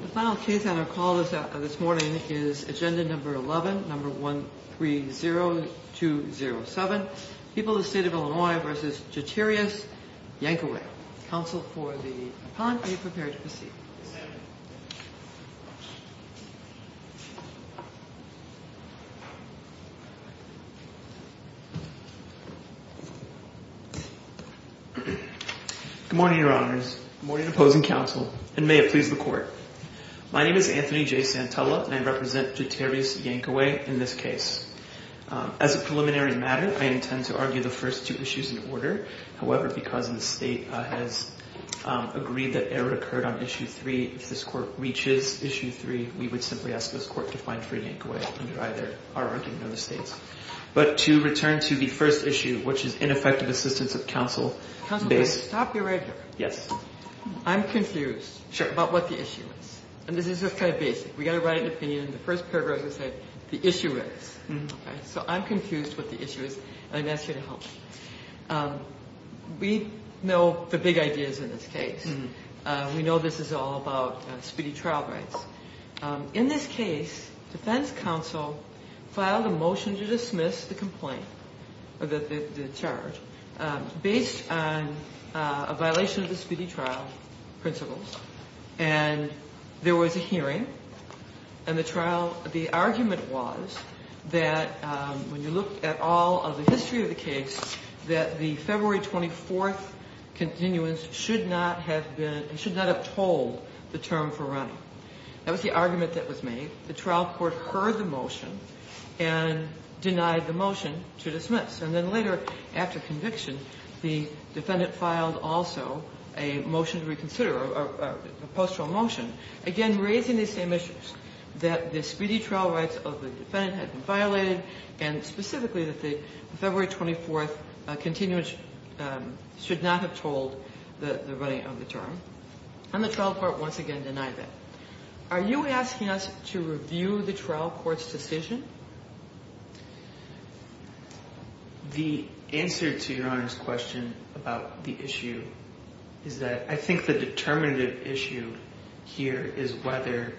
The final case on our call this morning is agenda number 11, number 130207. People of the State of Illinois v. Jeterius Yankaway. Counsel for the appellant, are you prepared to proceed? Good morning, your honors, good morning opposing counsel, and may it please the court. My name is Anthony J. Santella and I represent Jeterius Yankaway in this case. As a preliminary matter, I intend to argue the first two issues in order. However, because the State has agreed that error occurred on issue 3, if this court reaches issue 3, we would simply ask this court to find free Yankaway under either our argument or the State's. But to return to the first issue, which is ineffective assistance of counsel. Counsel, stop you right here. Yes. I'm confused. Sure. About what the issue is. And this is just kind of basic. We've got to write an opinion. The first paragraph is that the issue is. Okay. So I'm confused what the issue is and I'm going to ask you to help me. We know the big ideas in this case. We know this is all about speedy trial rights. In this case, defense counsel filed a motion to dismiss the complaint, the charge, based on a violation of the speedy trial principles. And there was a hearing. And the trial, the argument was that when you look at all of the history of the case, that the February 24th continuance should not have been, should not have told the term for running. That was the argument that was made. The trial court heard the motion and denied the motion to dismiss. And then later, after conviction, the defendant filed also a motion to reconsider, or a post-trial motion, again raising the same issues, that the speedy trial rights of the defendant had been violated, and specifically that the February 24th continuance should not have told the running of the term. And the trial court once again denied that. Are you asking us to review the trial court's decision? The answer to Your Honor's question about the issue is that I think the determinative issue here is whether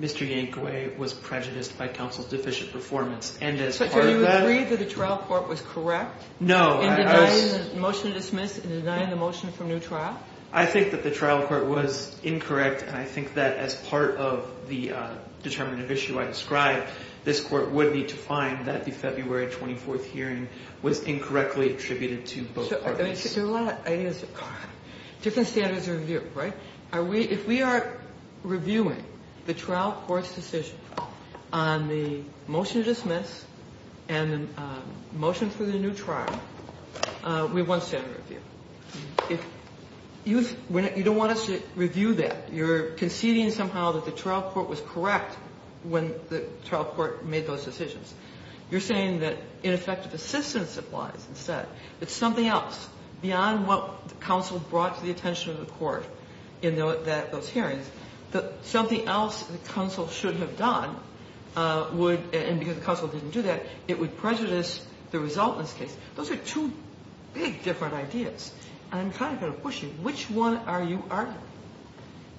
Mr. Yankaway was prejudiced by counsel's deficient performance. And as part of that— So do you agree that the trial court was correct in denying the motion to dismiss, in denying the motion for a new trial? I think that the trial court was incorrect. And I think that as part of the determinative issue I described, this Court would need to find that the February 24th hearing was incorrectly attributed to both parties. There are a lot of ideas. Different standards of review, right? If we are reviewing the trial court's decision on the motion to dismiss and the motion for the new trial, we have one standard of review. If you don't want us to review that, you're conceding somehow that the trial court was correct when the trial court made those decisions. You're saying that ineffective assistance applies instead. It's something else. Beyond what counsel brought to the attention of the court in those hearings, something else that counsel should have done would, and because counsel didn't do that, it would prejudice the result in this case. Those are two big different ideas. And I'm kind of going to push you. Which one are you arguing?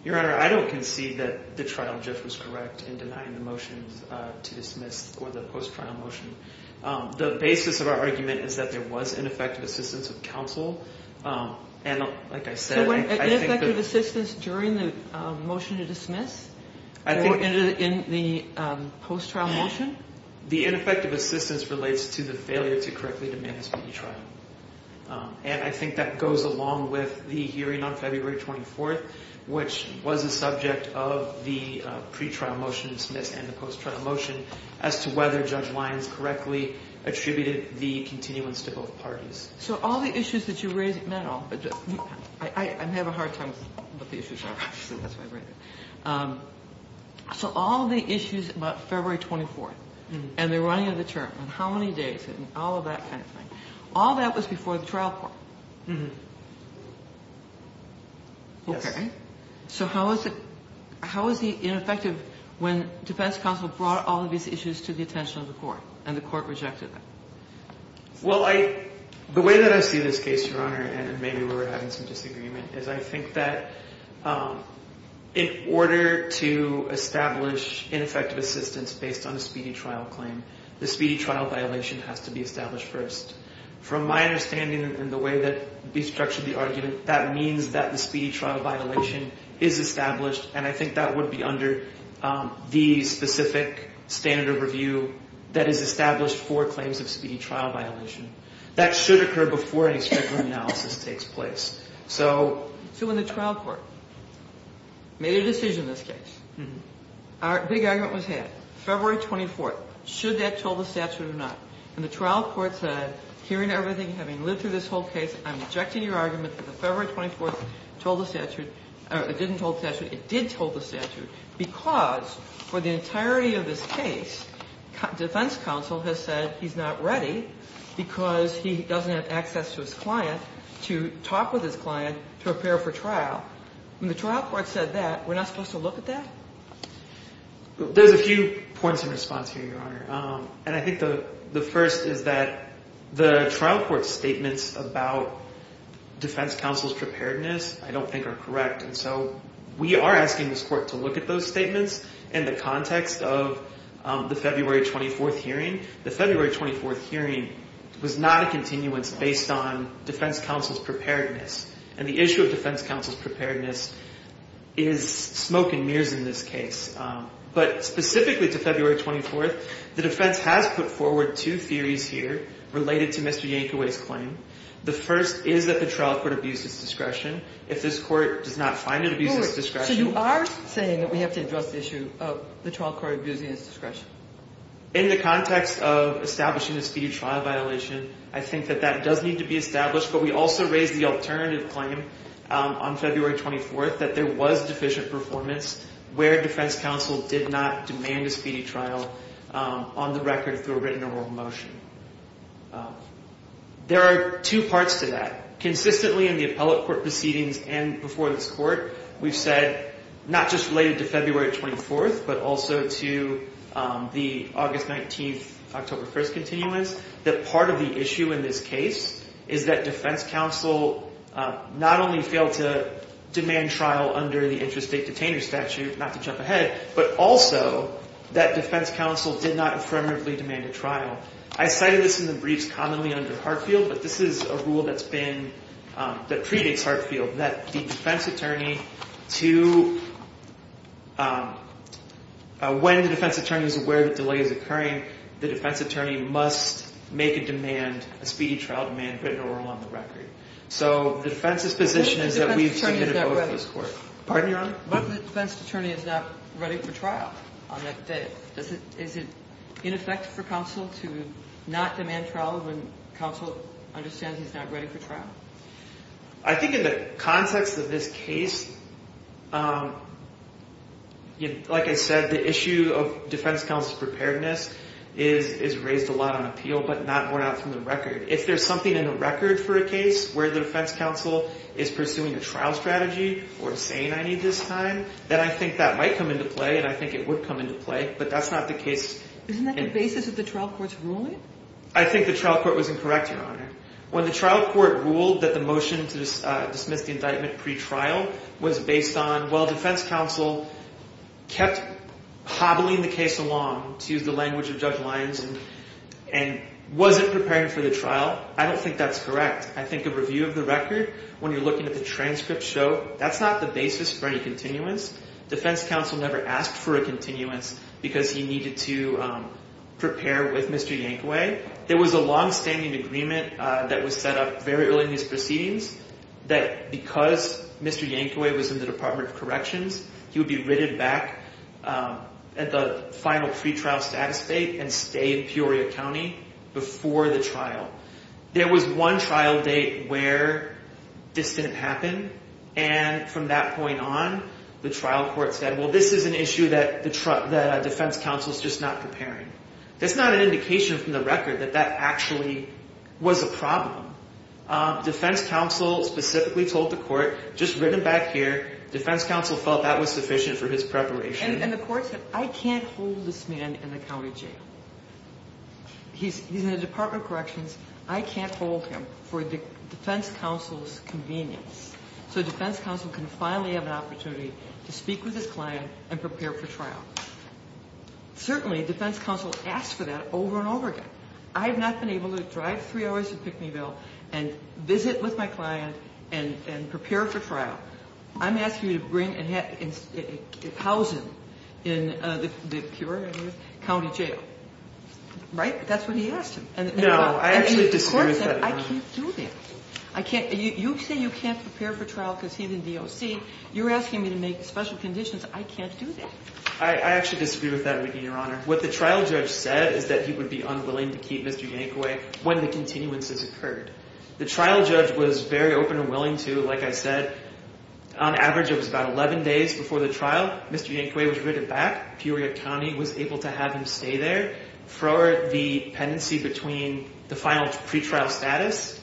Your Honor, I don't concede that the trial GIF was correct in denying the motion to dismiss or the post-trial motion. The basis of our argument is that there was ineffective assistance of counsel. And like I said, I think that— So was it ineffective assistance during the motion to dismiss or in the post-trial motion? The ineffective assistance relates to the failure to correctly demand a speedy trial. And I think that goes along with the hearing on February 24th, which was the subject of the pretrial motion to dismiss and the post-trial motion as to whether Judge Lyons correctly attributed the continuance to both parties. So all the issues that you raise at mental—I have a hard time with what the issues are. That's why I read it. So all the issues about February 24th and the running of the term and how many days and all of that kind of thing, all that was before the trial court. So how is it—how is it ineffective when defense counsel brought all of these issues to the attention of the court and the court rejected them? Well, I—the way that I see this case, Your Honor, and maybe we're having some disagreement, is I think that in order to establish ineffective assistance based on a speedy trial claim, the speedy trial violation has to be established first. From my understanding and the way that we structured the argument, that means that the speedy trial violation is established, and I think that would be under the specific standard of review that is established for claims of speedy trial violation. That should occur before any stricter analysis takes place. So— So when the trial court made a decision in this case, our big argument was had. February 24th. Should that toll the statute or not? And the trial court said, hearing everything, having lived through this whole case, I'm rejecting your argument that the February 24th toll the statute—or it didn't toll the statute. It did toll the statute because for the entirety of this case, defense counsel has said he's not ready because he doesn't have access to his client to talk with his client to prepare for trial. When the trial court said that, we're not supposed to look at that? There's a few points in response here, Your Honor. And I think the first is that the trial court's statements about defense counsel's preparedness I don't think are correct. And so we are asking this court to look at those statements in the context of the February 24th hearing. The February 24th hearing was not a continuance based on defense counsel's preparedness. And the issue of defense counsel's preparedness is smoke and mirrors in this case. But specifically to February 24th, the defense has put forward two theories here related to Mr. Yankoway's claim. The first is that the trial court abused his discretion. If this court does not find it abused his discretion— So you are saying that we have to address the issue of the trial court abusing his discretion? In the context of establishing a speedy trial violation, I think that that does need to be established. But we also raised the alternative claim on February 24th that there was deficient performance where defense counsel did not demand a speedy trial on the record through a written or oral motion. There are two parts to that. Consistently in the appellate court proceedings and before this court, we've said not just related to February 24th, but also to the August 19th, October 1st continuance, that part of the issue in this case is that defense counsel not only failed to demand trial under the interstate detainer statute, not to jump ahead, but also that defense counsel did not affirmatively demand a trial. I cited this in the briefs commonly under Hartfield, but this is a rule that's been—that predates Hartfield, that the defense attorney to—when the defense attorney is aware that delay is occurring, the defense attorney must make a demand, a speedy trial demand written or oral on the record. So the defense's position is that we've submitted a vote for this court. Pardon your honor? But the defense attorney is not ready for trial on that day. Is it ineffective for counsel to not demand trial when counsel understands he's not ready for trial? I think in the context of this case, like I said, the issue of defense counsel's preparedness is raised a lot on appeal, but not more out from the record. If there's something in the record for a case where the defense counsel is pursuing a trial strategy or saying, I need this time, then I think that might come into play, and I think it would come into play, but that's not the case. Isn't that the basis of the trial court's ruling? I think the trial court was incorrect, your honor. When the trial court ruled that the motion to dismiss the indictment pre-trial was based on, well, defense counsel kept hobbling the case along, to use the language of Judge Lyons, and wasn't prepared for the trial, I don't think that's correct. I think a review of the record, when you're looking at the transcript, show that's not the basis for any continuance. Defense counsel never asked for a continuance because he needed to prepare with Mr. Yankaway. There was a longstanding agreement that was set up very early in his proceedings that because Mr. Yankaway was in the Department of Corrections, he would be written back at the final pre-trial status date and stay in Peoria County before the trial. There was one trial date where this didn't happen, and from that point on, the trial court said, well, this is an issue that the defense counsel is just not preparing. That's not an indication from the record that that actually was a problem. Defense counsel specifically told the court, just written back here, defense counsel felt that was sufficient for his preparation. And the court said, I can't hold this man in the county jail. He's in the Department of Corrections. I can't hold him for defense counsel's convenience. So defense counsel can finally have an opportunity to speak with his client and prepare for trial. Certainly, defense counsel asked for that over and over again. I have not been able to drive three hours to Pickneyville and visit with my client and prepare for trial. I'm asking you to bring and house him in the Peoria County jail. Right? That's what he asked him. And the court said, I can't do that. You say you can't prepare for trial because he's in DOC. You're asking me to make special conditions. I can't do that. I actually disagree with that, Your Honor. What the trial judge said is that he would be unwilling to keep Mr. Yankaway when the continuances occurred. The trial judge was very open and willing to, like I said, on average, it was about 11 days before the trial. Mr. Yankaway was written back. Peoria County was able to have him stay there for the pendency between the final pretrial status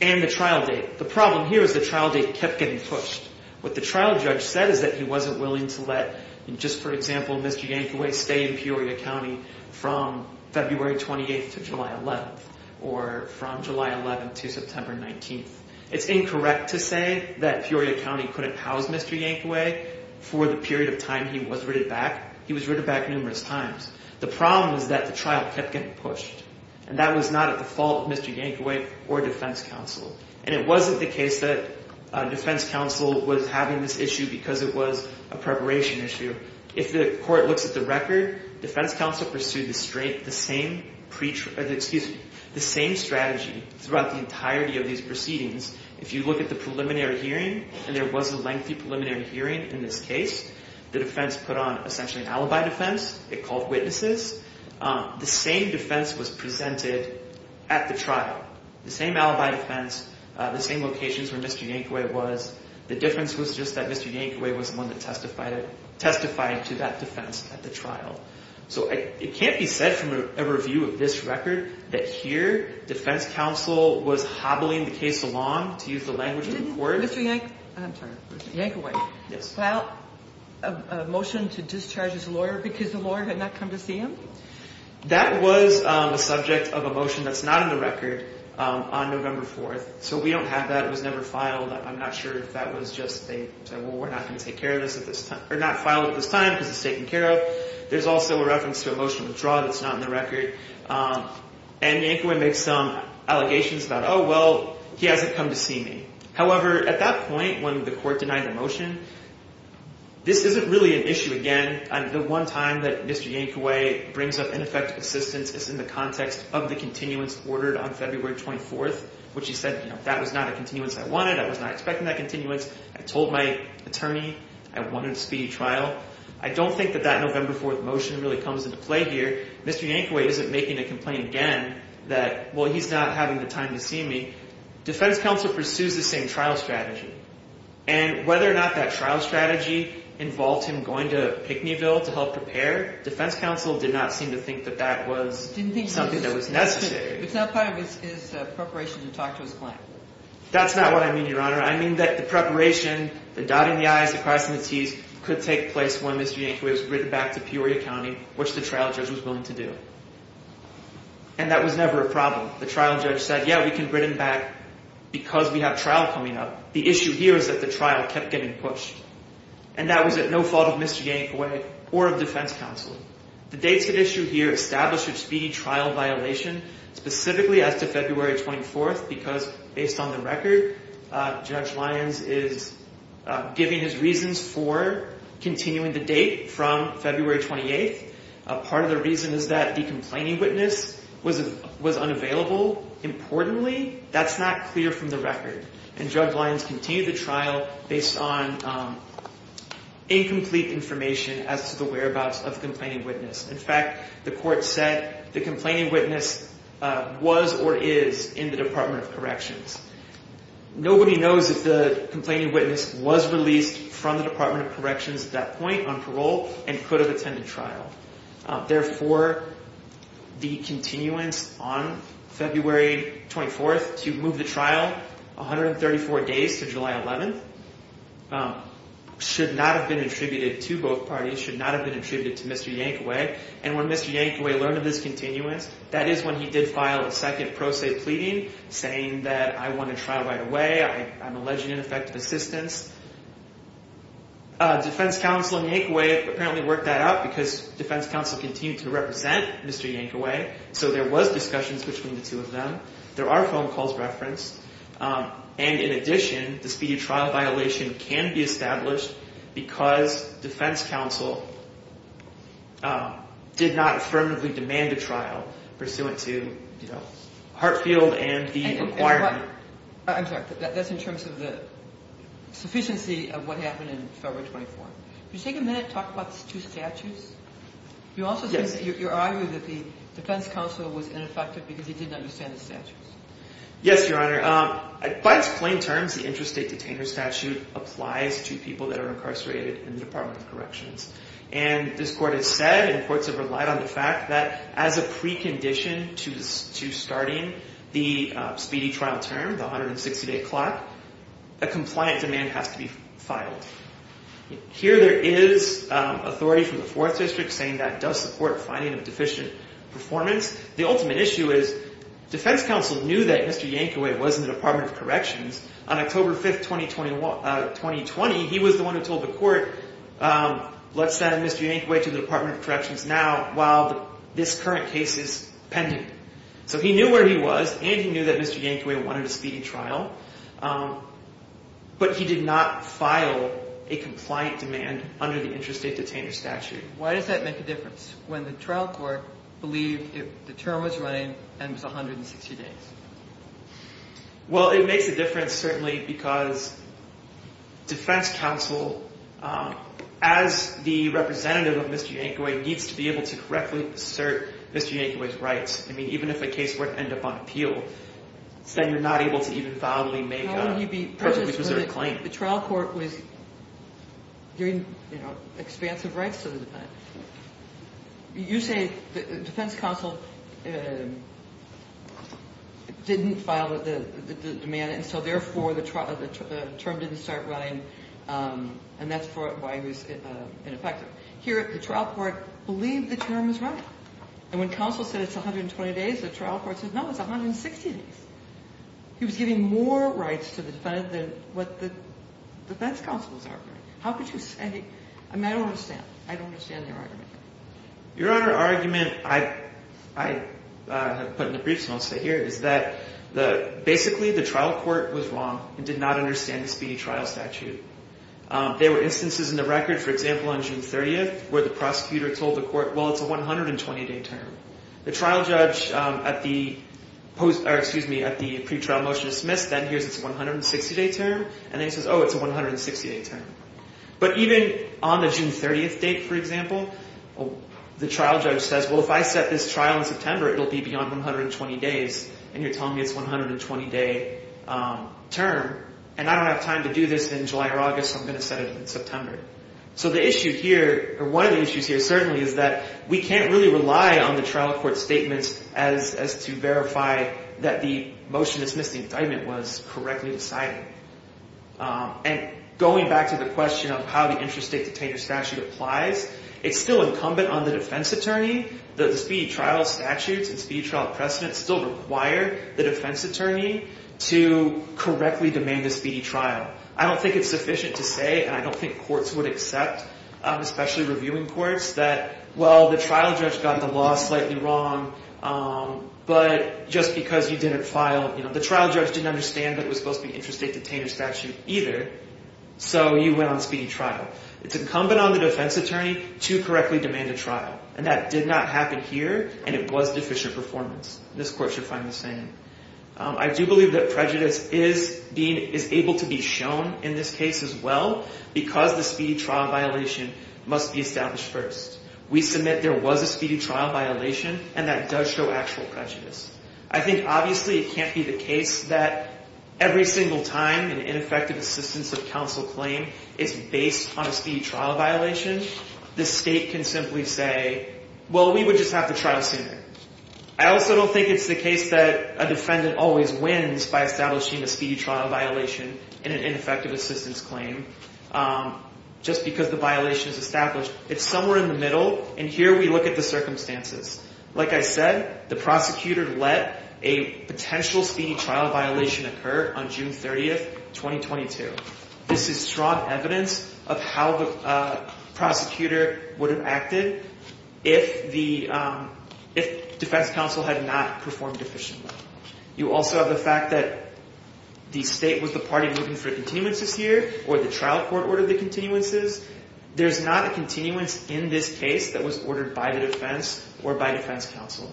and the trial date. The problem here is the trial date kept getting pushed. What the trial judge said is that he wasn't willing to let, just for example, Mr. Yankaway stay in Peoria County from February 28th to July 11th or from July 11th to September 19th. It's incorrect to say that Peoria County couldn't house Mr. Yankaway for the period of time he was written back. He was written back numerous times. The problem is that the trial kept getting pushed. And that was not at the fault of Mr. Yankaway or defense counsel. And it wasn't the case that defense counsel was having this issue because it was a preparation issue. If the court looks at the record, defense counsel pursued the same strategy throughout the entirety of these proceedings. If you look at the preliminary hearing, and there was a lengthy preliminary hearing in this case, the defense put on essentially an alibi defense. It called witnesses. The same defense was presented at the trial. The same alibi defense, the same locations where Mr. Yankaway was. The difference was just that Mr. Yankaway was the one that testified to that defense at the trial. So it can't be said from a review of this record that here defense counsel was hobbling the case along, to use the language of the court. Did Mr. Yank, I'm sorry, Mr. Yankaway, file a motion to discharge his lawyer because the lawyer had not come to see him? That was a subject of a motion that's not in the record on November 4th. So we don't have that. It was never filed. I'm not sure if that was just a, well, we're not going to take care of this at this time, or not file it at this time because it's taken care of. There's also a reference to a motion to withdraw that's not in the record. And Yankaway made some allegations about, oh, well, he hasn't come to see me. However, at that point when the court denied the motion, this isn't really an issue again. The one time that Mr. Yankaway brings up ineffective assistance is in the context of the continuance ordered on February 24th, which he said that was not a continuance I wanted. I was not expecting that continuance. I told my attorney I wanted a speedy trial. I don't think that that November 4th motion really comes into play here. Mr. Yankaway isn't making a complaint again that, well, he's not having the time to see me. Defense counsel pursues the same trial strategy. And whether or not that trial strategy involved him going to Pickneyville to help prepare, defense counsel did not seem to think that that was something that was necessary. It's not part of his preparation to talk to his client. That's not what I mean, Your Honor. I mean that the preparation, the dotting the i's, the crossings the t's, could take place when Mr. Yankaway was written back to Peoria County, which the trial judge was willing to do. And that was never a problem. The trial judge said, yeah, we can bring him back because we have trial coming up. The issue here is that the trial kept getting pushed. And that was at no fault of Mr. Yankaway or of defense counsel. The dates at issue here established a speedy trial violation specifically as to February 24th because, based on the record, Judge Lyons is giving his reasons for continuing the date from February 28th. Part of the reason is that the complaining witness was unavailable. Importantly, that's not clear from the record. And Judge Lyons continued the trial based on incomplete information as to the whereabouts of the complaining witness. In fact, the court said the complaining witness was or is in the Department of Corrections. Nobody knows if the complaining witness was released from the Department of Corrections at that point on parole and could have attended trial. Therefore, the continuance on February 24th to move the trial 134 days to July 11th should not have been attributed to both parties, should not have been attributed to Mr. Yankaway. And when Mr. Yankaway learned of this continuance, that is when he did file a second pro se pleading saying that I want a trial right away. I'm alleging ineffective assistance. Defense counsel and Yankaway apparently worked that out because defense counsel continued to represent Mr. Yankaway. So there was discussions between the two of them. There are phone calls referenced. And in addition, the speedy trial violation can be established because defense counsel did not affirmatively demand a trial pursuant to, you know, Hartfield and the requirement. I'm sorry. That's in terms of the sufficiency of what happened in February 24th. Could you take a minute and talk about the two statutes? You also think you're arguing that the defense counsel was ineffective because he didn't understand the statutes. Yes, Your Honor. By its plain terms, the interstate detainer statute applies to people that are incarcerated in the Department of Corrections. And this court has said and courts have relied on the fact that as a precondition to starting the speedy trial term, the 160-day clock, a compliant demand has to be filed. Here there is authority from the Fourth District saying that does support finding of deficient performance. The ultimate issue is defense counsel knew that Mr. Yankaway was in the Department of Corrections. On October 5th, 2020, he was the one who told the court, let's send Mr. Yankaway to the Department of Corrections now while this current case is pending. So he knew where he was and he knew that Mr. Yankaway wanted a speedy trial. But he did not file a compliant demand under the interstate detainer statute. Why does that make a difference when the trial court believed the term was running and it was 160 days? Well, it makes a difference certainly because defense counsel, as the representative of Mr. Yankaway, needs to be able to correctly assert Mr. Yankaway's rights. I mean, even if a case were to end up on appeal, then you're not able to even validly make a perfectly preserved claim. The trial court was giving expansive rights to the defendant. You say defense counsel didn't file the demand and so therefore the term didn't start running and that's why it was ineffective. Here the trial court believed the term was running. And when counsel said it's 120 days, the trial court said, no, it's 160 days. He was giving more rights to the defendant than what the defense counsel was arguing. How could you say – I mean, I don't understand. I don't understand your argument. Your Honor, the argument I put in the briefs and I'll say here is that basically the trial court was wrong and did not understand the speedy trial statute. There were instances in the record, for example, on June 30th where the prosecutor told the court, well, it's a 120-day term. The trial judge at the pre-trial motion is dismissed. Then here's its 160-day term. And then he says, oh, it's a 160-day term. But even on the June 30th date, for example, the trial judge says, well, if I set this trial in September, it will be beyond 120 days. And you're telling me it's a 120-day term and I don't have time to do this in July or August. I'm going to set it in September. So the issue here – or one of the issues here certainly is that we can't really rely on the trial court statements as to verify that the motion dismissing indictment was correctly decided. And going back to the question of how the interstate detainer statute applies, it's still incumbent on the defense attorney. The speedy trial statutes and speedy trial precedents still require the defense attorney to correctly demand a speedy trial. I don't think it's sufficient to say, and I don't think courts would accept, especially reviewing courts, that, well, the trial judge got the law slightly wrong, but just because you didn't file – the trial judge didn't understand that it was supposed to be interstate detainer statute either, so you went on a speedy trial. It's incumbent on the defense attorney to correctly demand a trial. And that did not happen here, and it was deficient performance. This court should find the same. I do believe that prejudice is being – is able to be shown in this case as well because the speedy trial violation must be established first. We submit there was a speedy trial violation, and that does show actual prejudice. I think obviously it can't be the case that every single time an ineffective assistance of counsel claim is based on a speedy trial violation. The state can simply say, well, we would just have to trial sooner. I also don't think it's the case that a defendant always wins by establishing a speedy trial violation in an ineffective assistance claim just because the violation is established. It's somewhere in the middle, and here we look at the circumstances. Like I said, the prosecutor let a potential speedy trial violation occur on June 30th, 2022. This is strong evidence of how the prosecutor would have acted if the – if defense counsel had not performed efficiently. You also have the fact that the state was the party looking for continuances here or the trial court ordered the continuances. There's not a continuance in this case that was ordered by the defense or by defense counsel.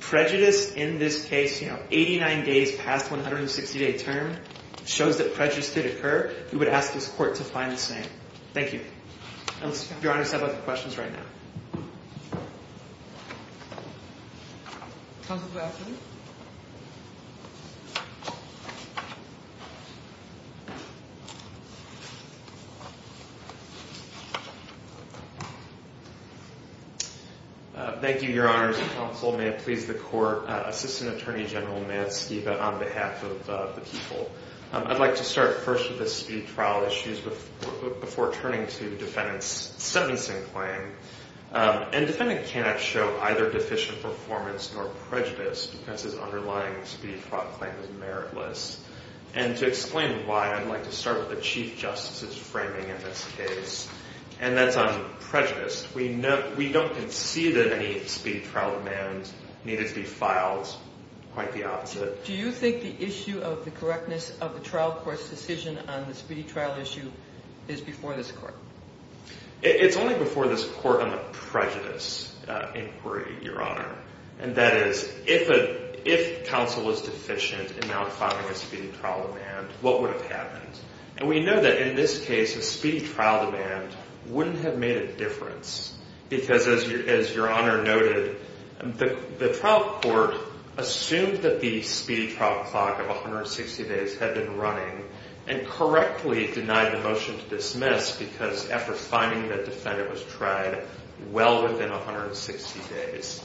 Prejudice in this case, you know, 89 days past 160-day term shows that prejudice did occur. We would ask this court to find the same. Thank you. Your Honor, I have other questions right now. Counsel, good afternoon. Thank you, Your Honors and counsel. May it please the court. Assistant Attorney General Matt Skiba on behalf of the people. I'd like to start first with the speedy trial issues before turning to the defendant's sentencing claim. And defendant cannot show either deficient performance nor prejudice because his underlying speedy trial claim is meritless. And to explain why, I'd like to start with the Chief Justice's framing in this case, and that's on prejudice. We don't concede that any speedy trial demands needed to be filed, quite the opposite. Do you think the issue of the correctness of the trial court's decision on the speedy trial issue is before this court? It's only before this court on the prejudice inquiry, Your Honor. And that is, if counsel was deficient in not filing a speedy trial demand, what would have happened? And we know that in this case, a speedy trial demand wouldn't have made a difference. Because as Your Honor noted, the trial court assumed that the speedy trial clock of 160 days had been running and correctly denied the motion to dismiss because after finding that defendant was tried well within 160 days.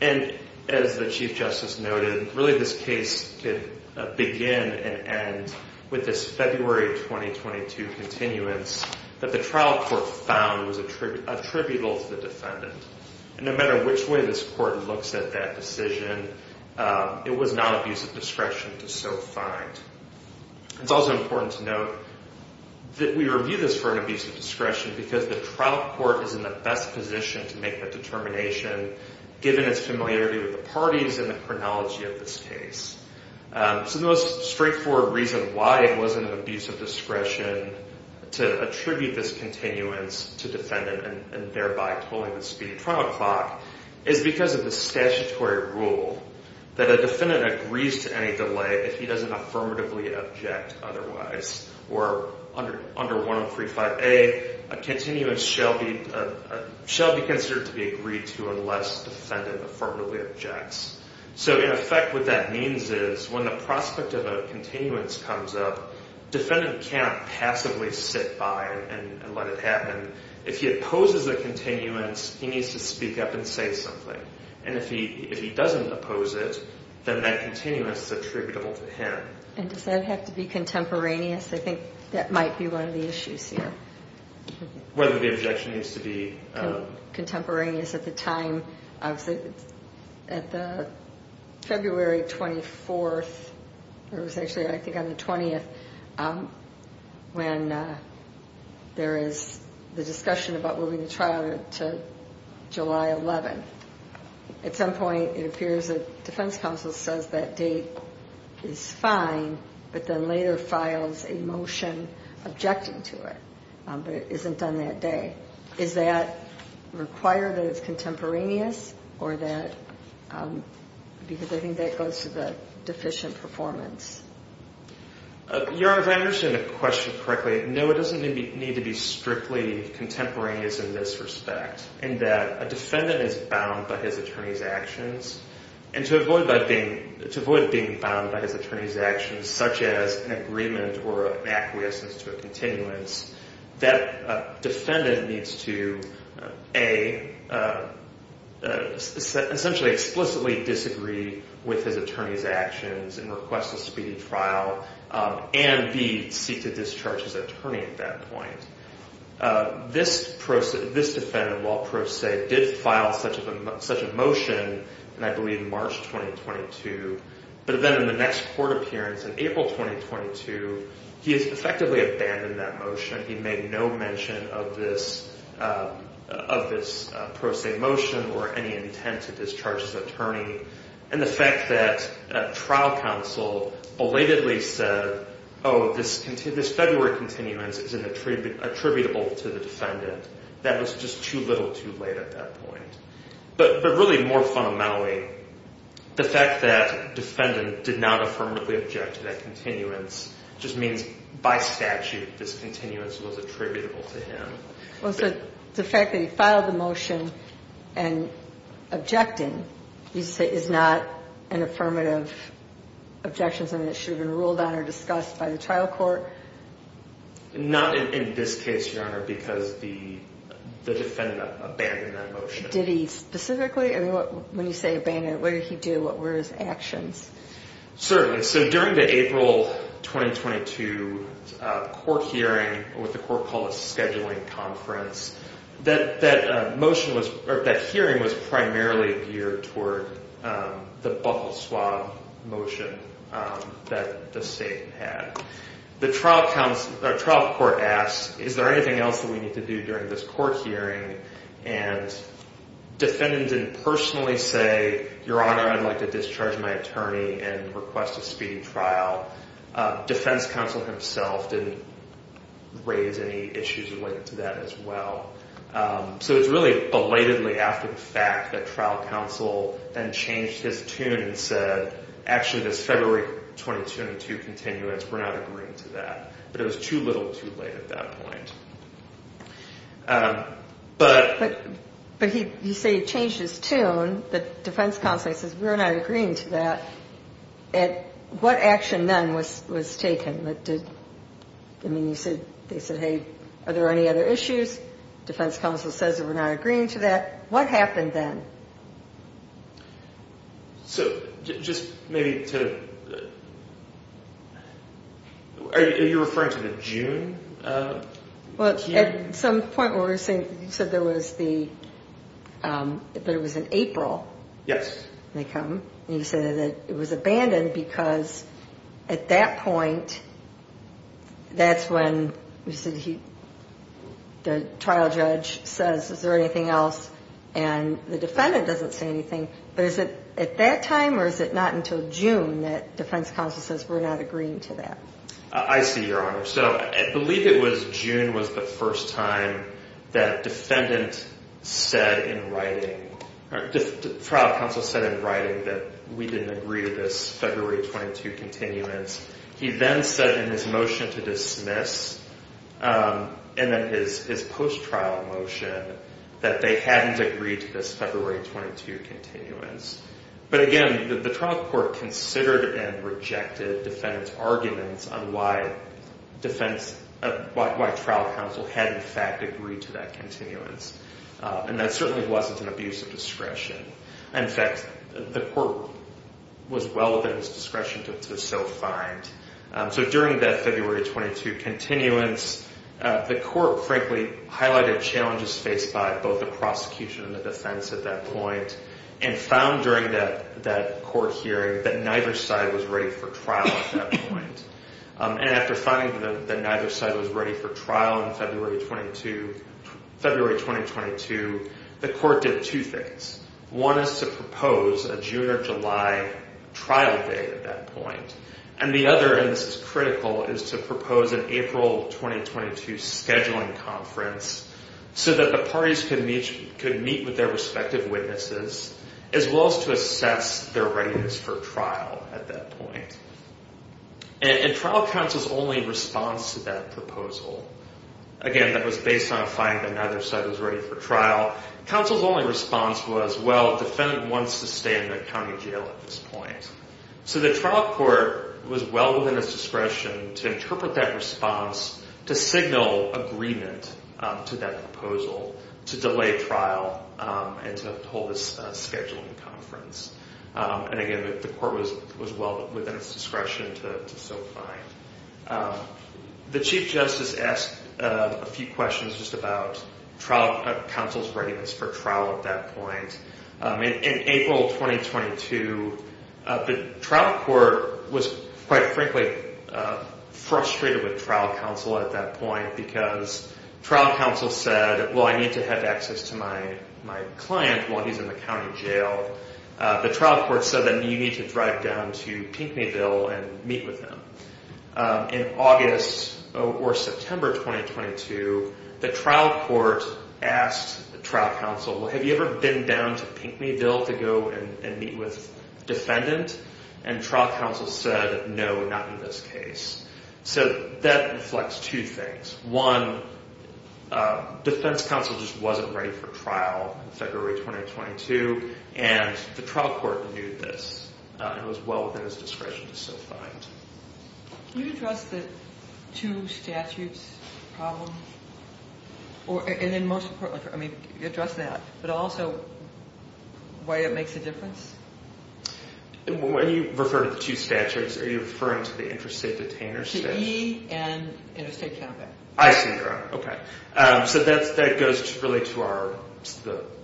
And as the Chief Justice noted, really this case could begin and end with this February 2022 continuance that the trial court found was attributable to the defendant. And no matter which way this court looks at that decision, it was not abuse of discretion to so find. It's also important to note that we review this for an abuse of discretion because the trial court is in the best position to make that determination, given its familiarity with the parties and the chronology of this case. So the most straightforward reason why it wasn't an abuse of discretion to attribute this continuance to defendant and thereby tolling the speedy trial clock is because of the statutory rule that a defendant agrees to any delay if he doesn't affirmatively object otherwise. Or under 103.5a, a continuance shall be considered to be agreed to unless defendant affirmatively objects. So in effect, what that means is when the prospect of a continuance comes up, defendant cannot passively sit by and let it happen. If he opposes the continuance, he needs to speak up and say something. And if he doesn't oppose it, then that continuance is attributable to him. And does that have to be contemporaneous? I think that might be one of the issues here. Whether the objection needs to be... contemporaneous at the time of the February 24th, or it was actually I think on the 20th, when there is the discussion about moving the trial to July 11th. At some point, it appears that defense counsel says that date is fine, but then later files a motion objecting to it, but it isn't done that day. Is that required that it's contemporaneous? Because I think that goes to the deficient performance. Your Honor, if I understand the question correctly, no, it doesn't need to be strictly contemporaneous in this respect. In that a defendant is bound by his attorney's actions. And to avoid being bound by his attorney's actions, such as an agreement or an acquiescence to a continuance, that defendant needs to A, essentially explicitly disagree with his attorney's actions and request a speeding trial, and B, seek to discharge his attorney at that point. This defendant, while pro se, did file such a motion in, I believe, March 2022. But then in the next court appearance in April 2022, he has effectively abandoned that motion. He made no mention of this pro se motion or any intent to discharge his attorney. And the fact that trial counsel belatedly said, oh, this February continuance is attributable to the defendant, that was just too little too late at that point. But really more fundamentally, the fact that defendant did not affirmatively object to that continuance just means by statute this continuance was attributable to him. Well, so the fact that he filed the motion and objecting, you say, is not an affirmative objection, something that should have been ruled on or discussed by the trial court? Not in this case, Your Honor, because the defendant abandoned that motion. Did he specifically? When you say abandoned, what did he do? What were his actions? Certainly. So during the April 2022 court hearing, what the court called a scheduling conference, that hearing was primarily geared toward the Buckleswab motion that the state had. The trial court asked, is there anything else that we need to do during this court hearing? And defendants didn't personally say, Your Honor, I'd like to discharge my attorney and request a speeding trial. Defense counsel himself didn't raise any issues related to that as well. So it's really belatedly after the fact that trial counsel then changed his tune and said, actually, this February 2022 continuance, we're not agreeing to that. But it was too little too late at that point. But you say he changed his tune, but defense counsel says we're not agreeing to that. And what action then was taken? I mean, you said they said, hey, are there any other issues? Defense counsel says we're not agreeing to that. What happened then? So just maybe to. Are you referring to the June? Well, at some point, we're saying you said there was the. But it was in April. Yes, they come. And you said that it was abandoned because at that point, that's when you said he. The trial judge says, is there anything else? And the defendant doesn't say anything. But is it at that time or is it not until June that defense counsel says we're not agreeing to that? I see your honor. So I believe it was June was the first time that defendant said in writing trial counsel said in writing that we didn't agree to this February 22 continuance. He then said in his motion to dismiss and then his his post trial motion that they hadn't agreed to this February 22 continuance. But again, the trial court considered and rejected defendants arguments on why defense, why trial counsel had in fact agreed to that continuance. And that certainly wasn't an abuse of discretion. In fact, the court was well within its discretion to so find. So during that February 22 continuance, the court frankly highlighted challenges faced by both the prosecution and the defense at that point. And found during that that court hearing that neither side was ready for trial at that point. And after finding that neither side was ready for trial in February 22, February 2022, the court did two things. One is to propose a June or July trial date at that point. And the other, and this is critical, is to propose an April 2022 scheduling conference so that the parties could meet could meet with their respective witnesses as well as to assess their readiness for trial at that point. And trial counsel's only response to that proposal, again, that was based on a find that neither side was ready for trial. Counsel's only response was, well, defendant wants to stay in the county jail at this point. So the trial court was well within its discretion to interpret that response, to signal agreement to that proposal, to delay trial, and to hold this scheduling conference. And again, the court was well within its discretion to so find. The Chief Justice asked a few questions just about trial counsel's readiness for trial at that point. In April 2022, the trial court was, quite frankly, frustrated with trial counsel at that point because trial counsel said, well, I need to have access to my client while he's in the county jail. The trial court said that you need to drive down to Pinckneyville and meet with him. In August or September 2022, the trial court asked the trial counsel, well, have you ever been down to Pinckneyville to go and meet with defendant? And trial counsel said, no, not in this case. So that reflects two things. One, defense counsel just wasn't ready for trial in February 2022, and the trial court renewed this. It was well within its discretion to so find. Can you address the two statutes problem? And then most importantly, I mean, address that, but also why it makes a difference? When you refer to the two statutes, are you referring to the interstate detainer statute? Interstate counterfeit. I see, Your Honor. So that goes really to our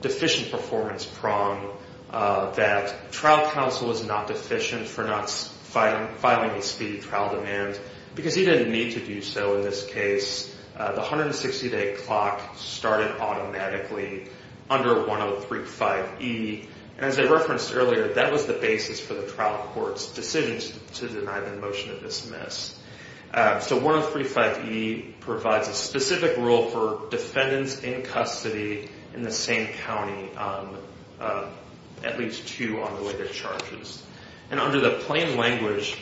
deficient performance prong that trial counsel was not deficient for not filing a speedy trial demand because he didn't need to do so in this case. The 160-day clock started automatically under 103-5E. And as I referenced earlier, that was the basis for the trial court's decision to deny the motion of dismiss. So 103-5E provides a specific rule for defendants in custody in the same county, at least two on the way to charges. And under the plain language,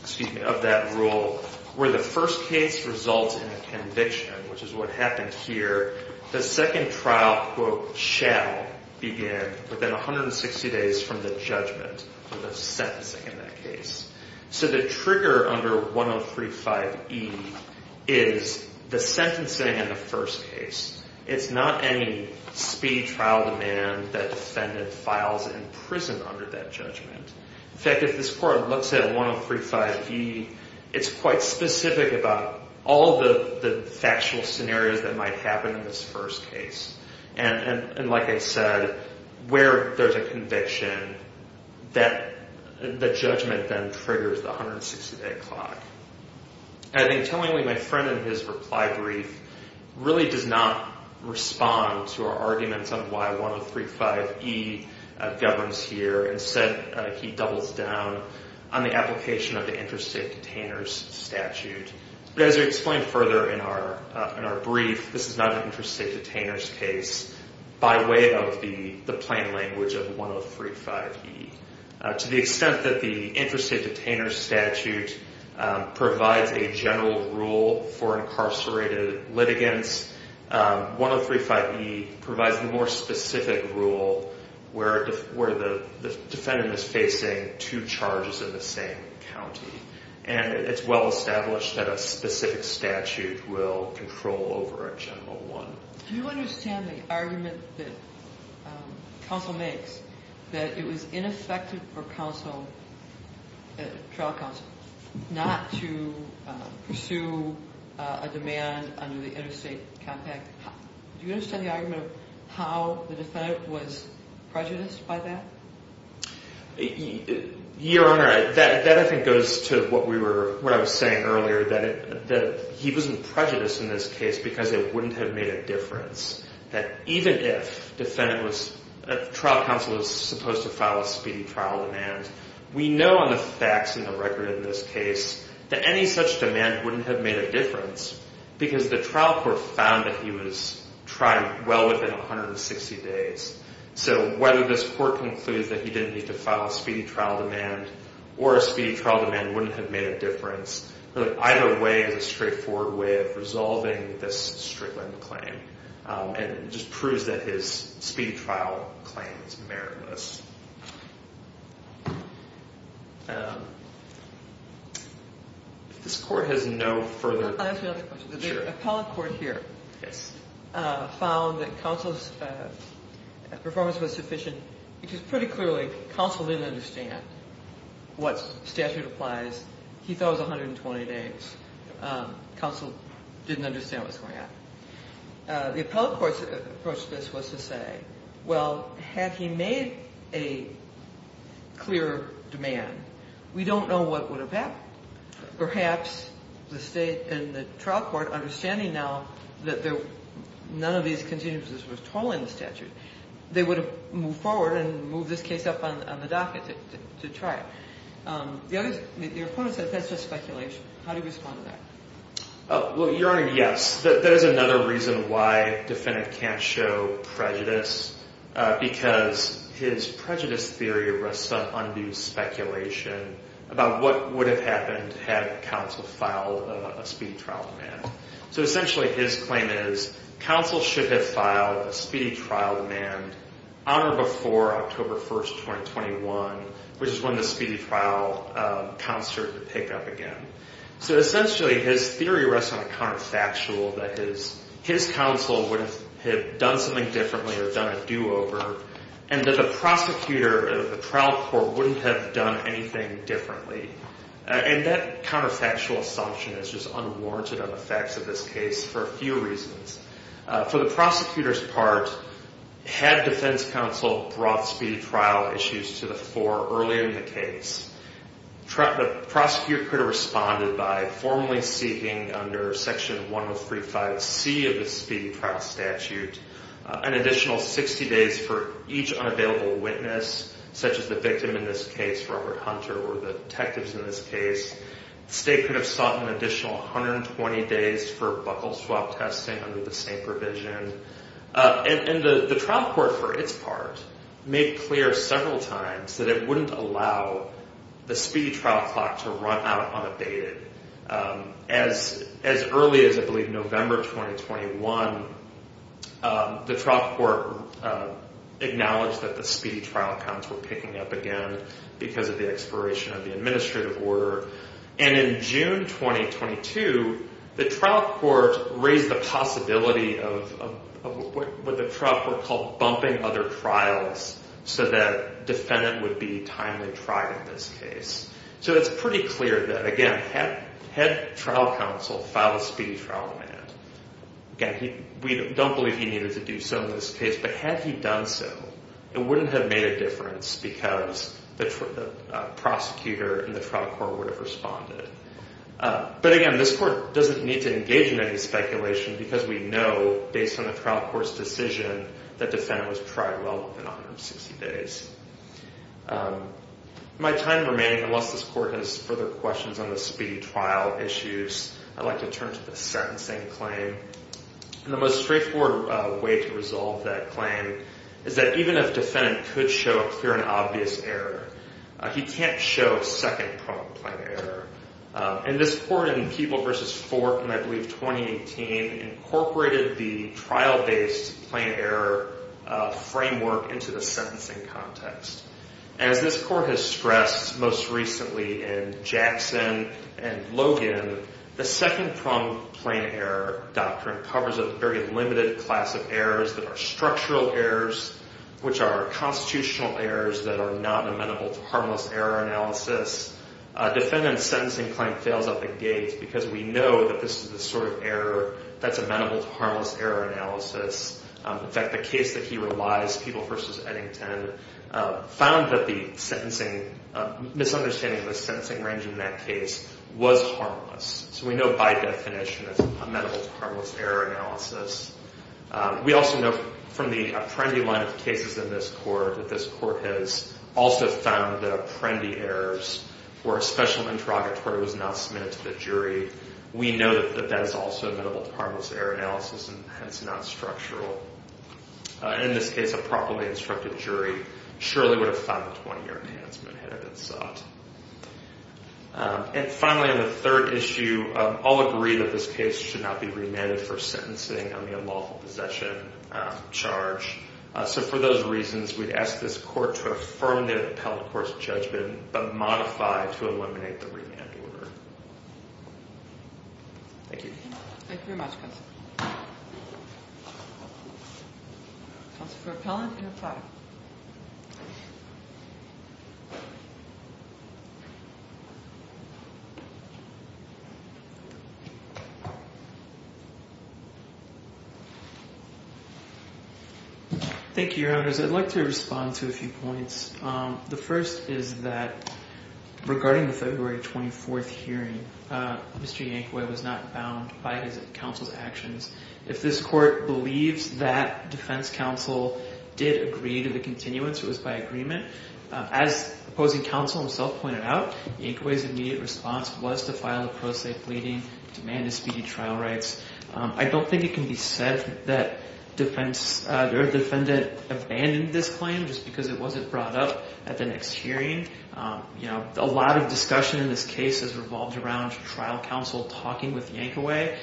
excuse me, of that rule, where the first case results in a conviction, which is what happened here, the second trial, quote, shall begin within 160 days from the judgment or the sentencing in that case. So the trigger under 103-5E is the sentencing in the first case. It's not any speed trial demand that defendant files in prison under that judgment. In fact, if this court looks at 103-5E, it's quite specific about all the factual scenarios that might happen in this first case. And like I said, where there's a conviction, the judgment then triggers the 160-day clock. I think tellingly, my friend in his reply brief really does not respond to our arguments on why 103-5E governs here. Instead, he doubles down on the application of the Interstate Detainers Statute. But as I explained further in our brief, this is not an interstate detainer's case by way of the plain language of 103-5E. To the extent that the Interstate Detainers Statute provides a general rule for incarcerated litigants, 103-5E provides the more specific rule where the defendant is facing two charges in the same county. And it's well established that a specific statute will control over a general one. Do you understand the argument that counsel makes that it was ineffective for trial counsel not to pursue a demand under the interstate compact? Do you understand the argument of how the defendant was prejudiced by that? Your Honor, that I think goes to what I was saying earlier, that he wasn't prejudiced in this case because it wouldn't have made a difference. That even if trial counsel was supposed to file a speedy trial demand, we know on the facts and the record in this case that any such demand wouldn't have made a difference because the trial court found that he was trying well within 160 days. So whether this court concludes that he didn't need to file a speedy trial demand or a speedy trial demand wouldn't have made a difference, either way is a straightforward way of resolving this straight-line claim and just proves that his speedy trial claim is meritless. If this court has no further... I have another question. Sure. The appellate court here found that counsel's performance was sufficient because pretty clearly counsel didn't understand what statute applies. He thought it was 120 days. Counsel didn't understand what was going on. The appellate court's approach to this was to say, well, had he made a clear demand, we don't know what would have happened. Perhaps the state and the trial court, understanding now that none of these contingencies were at all in the statute, they would have moved forward and moved this case up on the docket to trial. Your opponent said that's just speculation. How do you respond to that? Well, Your Honor, yes. That is another reason why a defendant can't show prejudice because his prejudice theory rests on undue speculation about what would have happened had counsel filed a speedy trial demand. So essentially his claim is counsel should have filed a speedy trial demand on or before October 1, 2021, which is when the speedy trial counts started to pick up again. So essentially his theory rests on a counterfactual that his counsel would have done something differently or done a do-over and that the prosecutor of the trial court wouldn't have done anything differently. And that counterfactual assumption is just unwarranted on the facts of this case for a few reasons. For the prosecutor's part, had defense counsel brought speedy trial issues to the fore earlier in the case, the prosecutor could have responded by formally seeking under Section 1035C of the speedy trial statute an additional 60 days for each unavailable witness, such as the victim in this case, Robert Hunter, or the detectives in this case. The state could have sought an additional 120 days for buckle swap testing under the same provision. And the trial court, for its part, made clear several times that it wouldn't allow the speedy trial clock to run out unabated. As early as, I believe, November 2021, the trial court acknowledged that the speedy trial counts were picking up again because of the expiration of the administrative order. And in June 2022, the trial court raised the possibility of what the trial court called bumping other trials so that defendant would be timely tried in this case. So it's pretty clear that, again, had trial counsel filed a speedy trial amendment, again, we don't believe he needed to do so in this case, but had he done so, it wouldn't have made a difference because the prosecutor and the trial court would have responded. But again, this court doesn't need to engage in any speculation because we know, based on the trial court's decision, that defendant was tried well within 160 days. In my time remaining, unless this court has further questions on the speedy trial issues, I'd like to turn to the sentencing claim. And the most straightforward way to resolve that claim is that even if defendant could show a clear and obvious error, he can't show second-pronged plain error. And this court in Peeble v. Fort in, I believe, 2018, incorporated the trial-based plain error framework into the sentencing context. As this court has stressed most recently in Jackson and Logan, the second-pronged plain error doctrine covers a very limited class of errors that are structural errors, which are constitutional errors that are not amenable to harmless error analysis. A defendant's sentencing claim fails at the gate because we know that this is the sort of error that's amenable to harmless error analysis. In fact, the case that he relies, Peeble v. Eddington, found that the misunderstanding of the sentencing range in that case was harmless. So we know by definition that it's amenable to harmless error analysis. We also know from the Apprendi line of cases in this court that this court has also found that Apprendi errors or a special interrogatory was not submitted to the jury. We know that that is also amenable to harmless error analysis and hence not structural. In this case, a properly instructed jury surely would have found the 20-year enhancement had it been sought. And finally, on the third issue, all agree that this case should not be remanded for sentencing on the unlawful possession charge. So for those reasons, we'd ask this court to affirm the appellate court's judgment but modify it to eliminate the remand order. Thank you. Thank you very much, Counselor. Counsel for Appellant, you're fired. Thank you, Your Honors. I'd like to respond to a few points. The first is that regarding the February 24th hearing, Mr. Yankway was not bound by his counsel's actions. If this court believes that defense counsel did agree to the continuance, it was by agreement. As opposing counsel himself pointed out, Yankway's immediate response was to file a pro se pleading to amend his speedy trial rights. I don't think it can be said that their defendant abandoned this claim just because it wasn't brought up at the next hearing. A lot of discussion in this case has revolved around trial counsel talking with Yankway.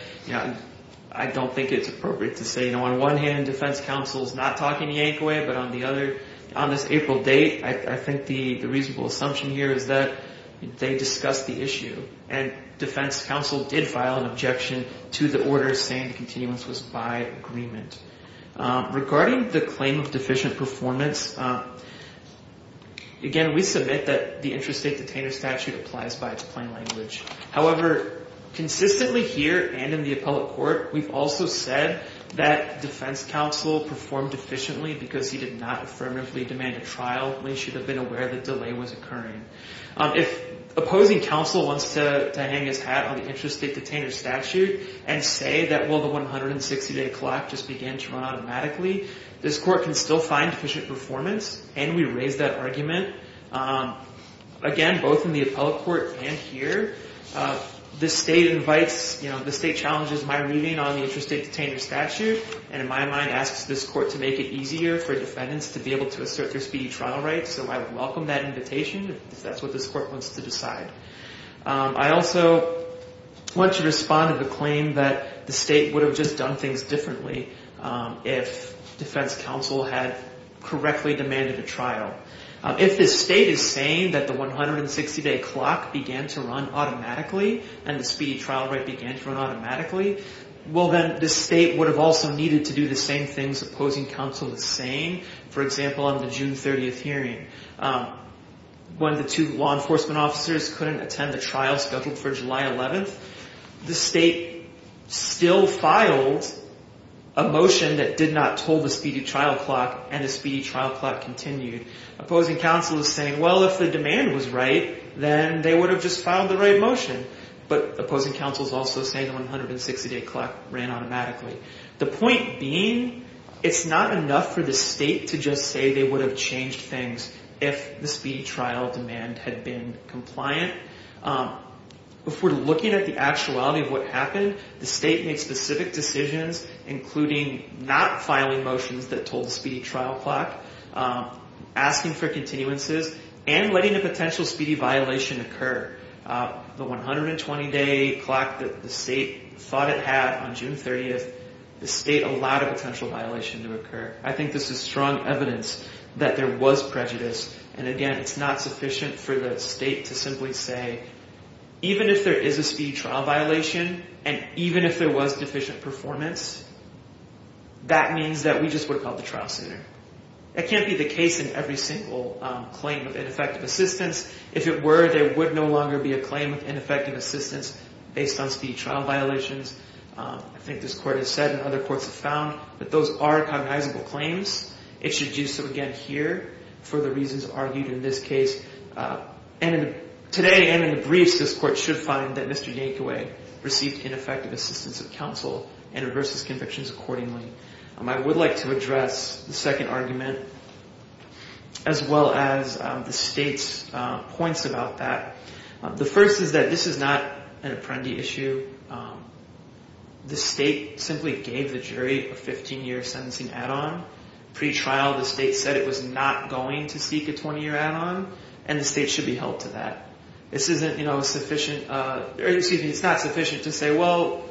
I don't think it's appropriate to say, on one hand, defense counsel's not talking to Yankway, but on this April date, I think the reasonable assumption here is that they discussed the issue and defense counsel did file an objection to the order saying the continuance was by agreement. Regarding the claim of deficient performance, again, we submit that the Interstate Detainer Statute applies by its plain language. However, consistently here and in the appellate court, we've also said that defense counsel performed efficiently because he did not affirmatively demand a trial. We should have been aware the delay was occurring. If opposing counsel wants to hang his hat on the Interstate Detainer Statute and say that, well, the 160-day clock just began to run automatically, this court can still find deficient performance, and we raise that argument, again, both in the appellate court and here. The state invites, you know, the state challenges my reading on the Interstate Detainer Statute, and in my mind, asks this court to make it easier for defendants to be able to assert their speedy trial rights. So I would welcome that invitation if that's what this court wants to decide. I also want to respond to the claim that the state would have just done things differently if defense counsel had correctly demanded a trial. If the state is saying that the 160-day clock began to run automatically and the speedy trial right began to run automatically, well, then the state would have also needed to do the same things opposing counsel is saying, for example, on the June 30th hearing. When the two law enforcement officers couldn't attend the trial scheduled for July 11th, the state still filed a motion that did not toll the speedy trial clock, and the speedy trial clock continued. Opposing counsel is saying, well, if the demand was right, then they would have just filed the right motion. But opposing counsel is also saying the 160-day clock ran automatically. The point being, it's not enough for the state to just say they would have changed things if the speedy trial demand had been compliant. If we're looking at the actuality of what happened, the state made specific decisions, including not filing motions that told the speedy trial clock, asking for continuances, and letting a potential speedy violation occur. The 120-day clock that the state thought it had on June 30th, the state allowed a potential violation to occur. I think this is strong evidence that there was prejudice. And again, it's not sufficient for the state to simply say, even if there is a speedy trial violation, and even if there was deficient performance, that means that we just would have called the trial center. That can't be the case in every single claim of ineffective assistance. If it were, there would no longer be a claim of ineffective assistance based on speedy trial violations. I think this court has said and other courts have found that those are cognizable claims. It should do so again here for the reasons argued in this case. And today and in the briefs, this court should find that Mr. Yankaway received ineffective assistance of counsel and reverses convictions accordingly. I would like to address the second argument as well as the state's points about that. The first is that this is not an apprendi issue. The state simply gave the jury a 15-year sentencing add-on. Pre-trial, the state said it was not going to seek a 20-year add-on, and the state should be held to that. It's not sufficient to say, well,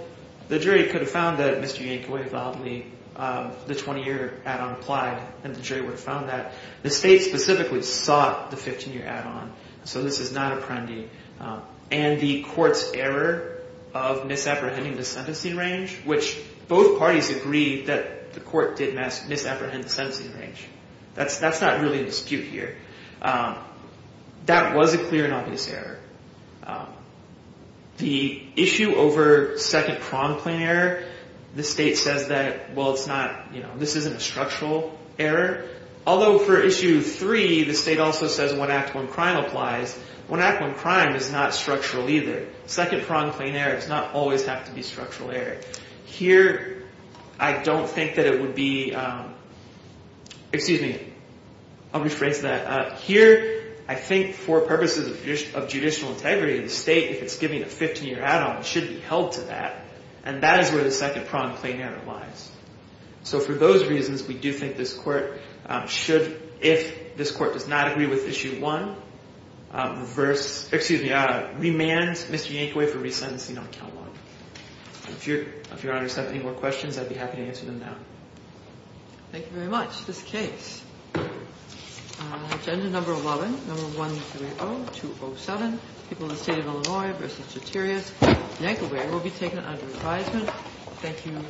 the jury could have found that Mr. Yankaway validly the 20-year add-on applied and the jury would have found that. The state specifically sought the 15-year add-on, so this is not apprendi. And the court's error of misapprehending the sentencing range, which both parties agreed that the court did misapprehend the sentencing range. That's not really in dispute here. That was a clear and obvious error. The issue over second prong plane error, the state says that, well, it's not, you know, this isn't a structural error. Although for issue three, the state also says one act, one crime applies, one act, one crime is not structural either. Second prong plane error does not always have to be a structural error. Here, I don't think that it would be, excuse me, I'll rephrase that. Here, I think for purposes of judicial integrity, the state, if it's giving a 15-year add-on, should be held to that. And that is where the second prong plane error lies. So for those reasons, we do think this court should, if this court does not agree with issue one, reverse, excuse me, remand Mr. Yankaway for resentencing on count one. If Your Honor has any more questions, I'd be happy to answer them now. Thank you very much. This case, agenda number 11, number 130207, People of the State of Illinois v. Ceterius, Yankaway, will be taken under advisement. Thank you.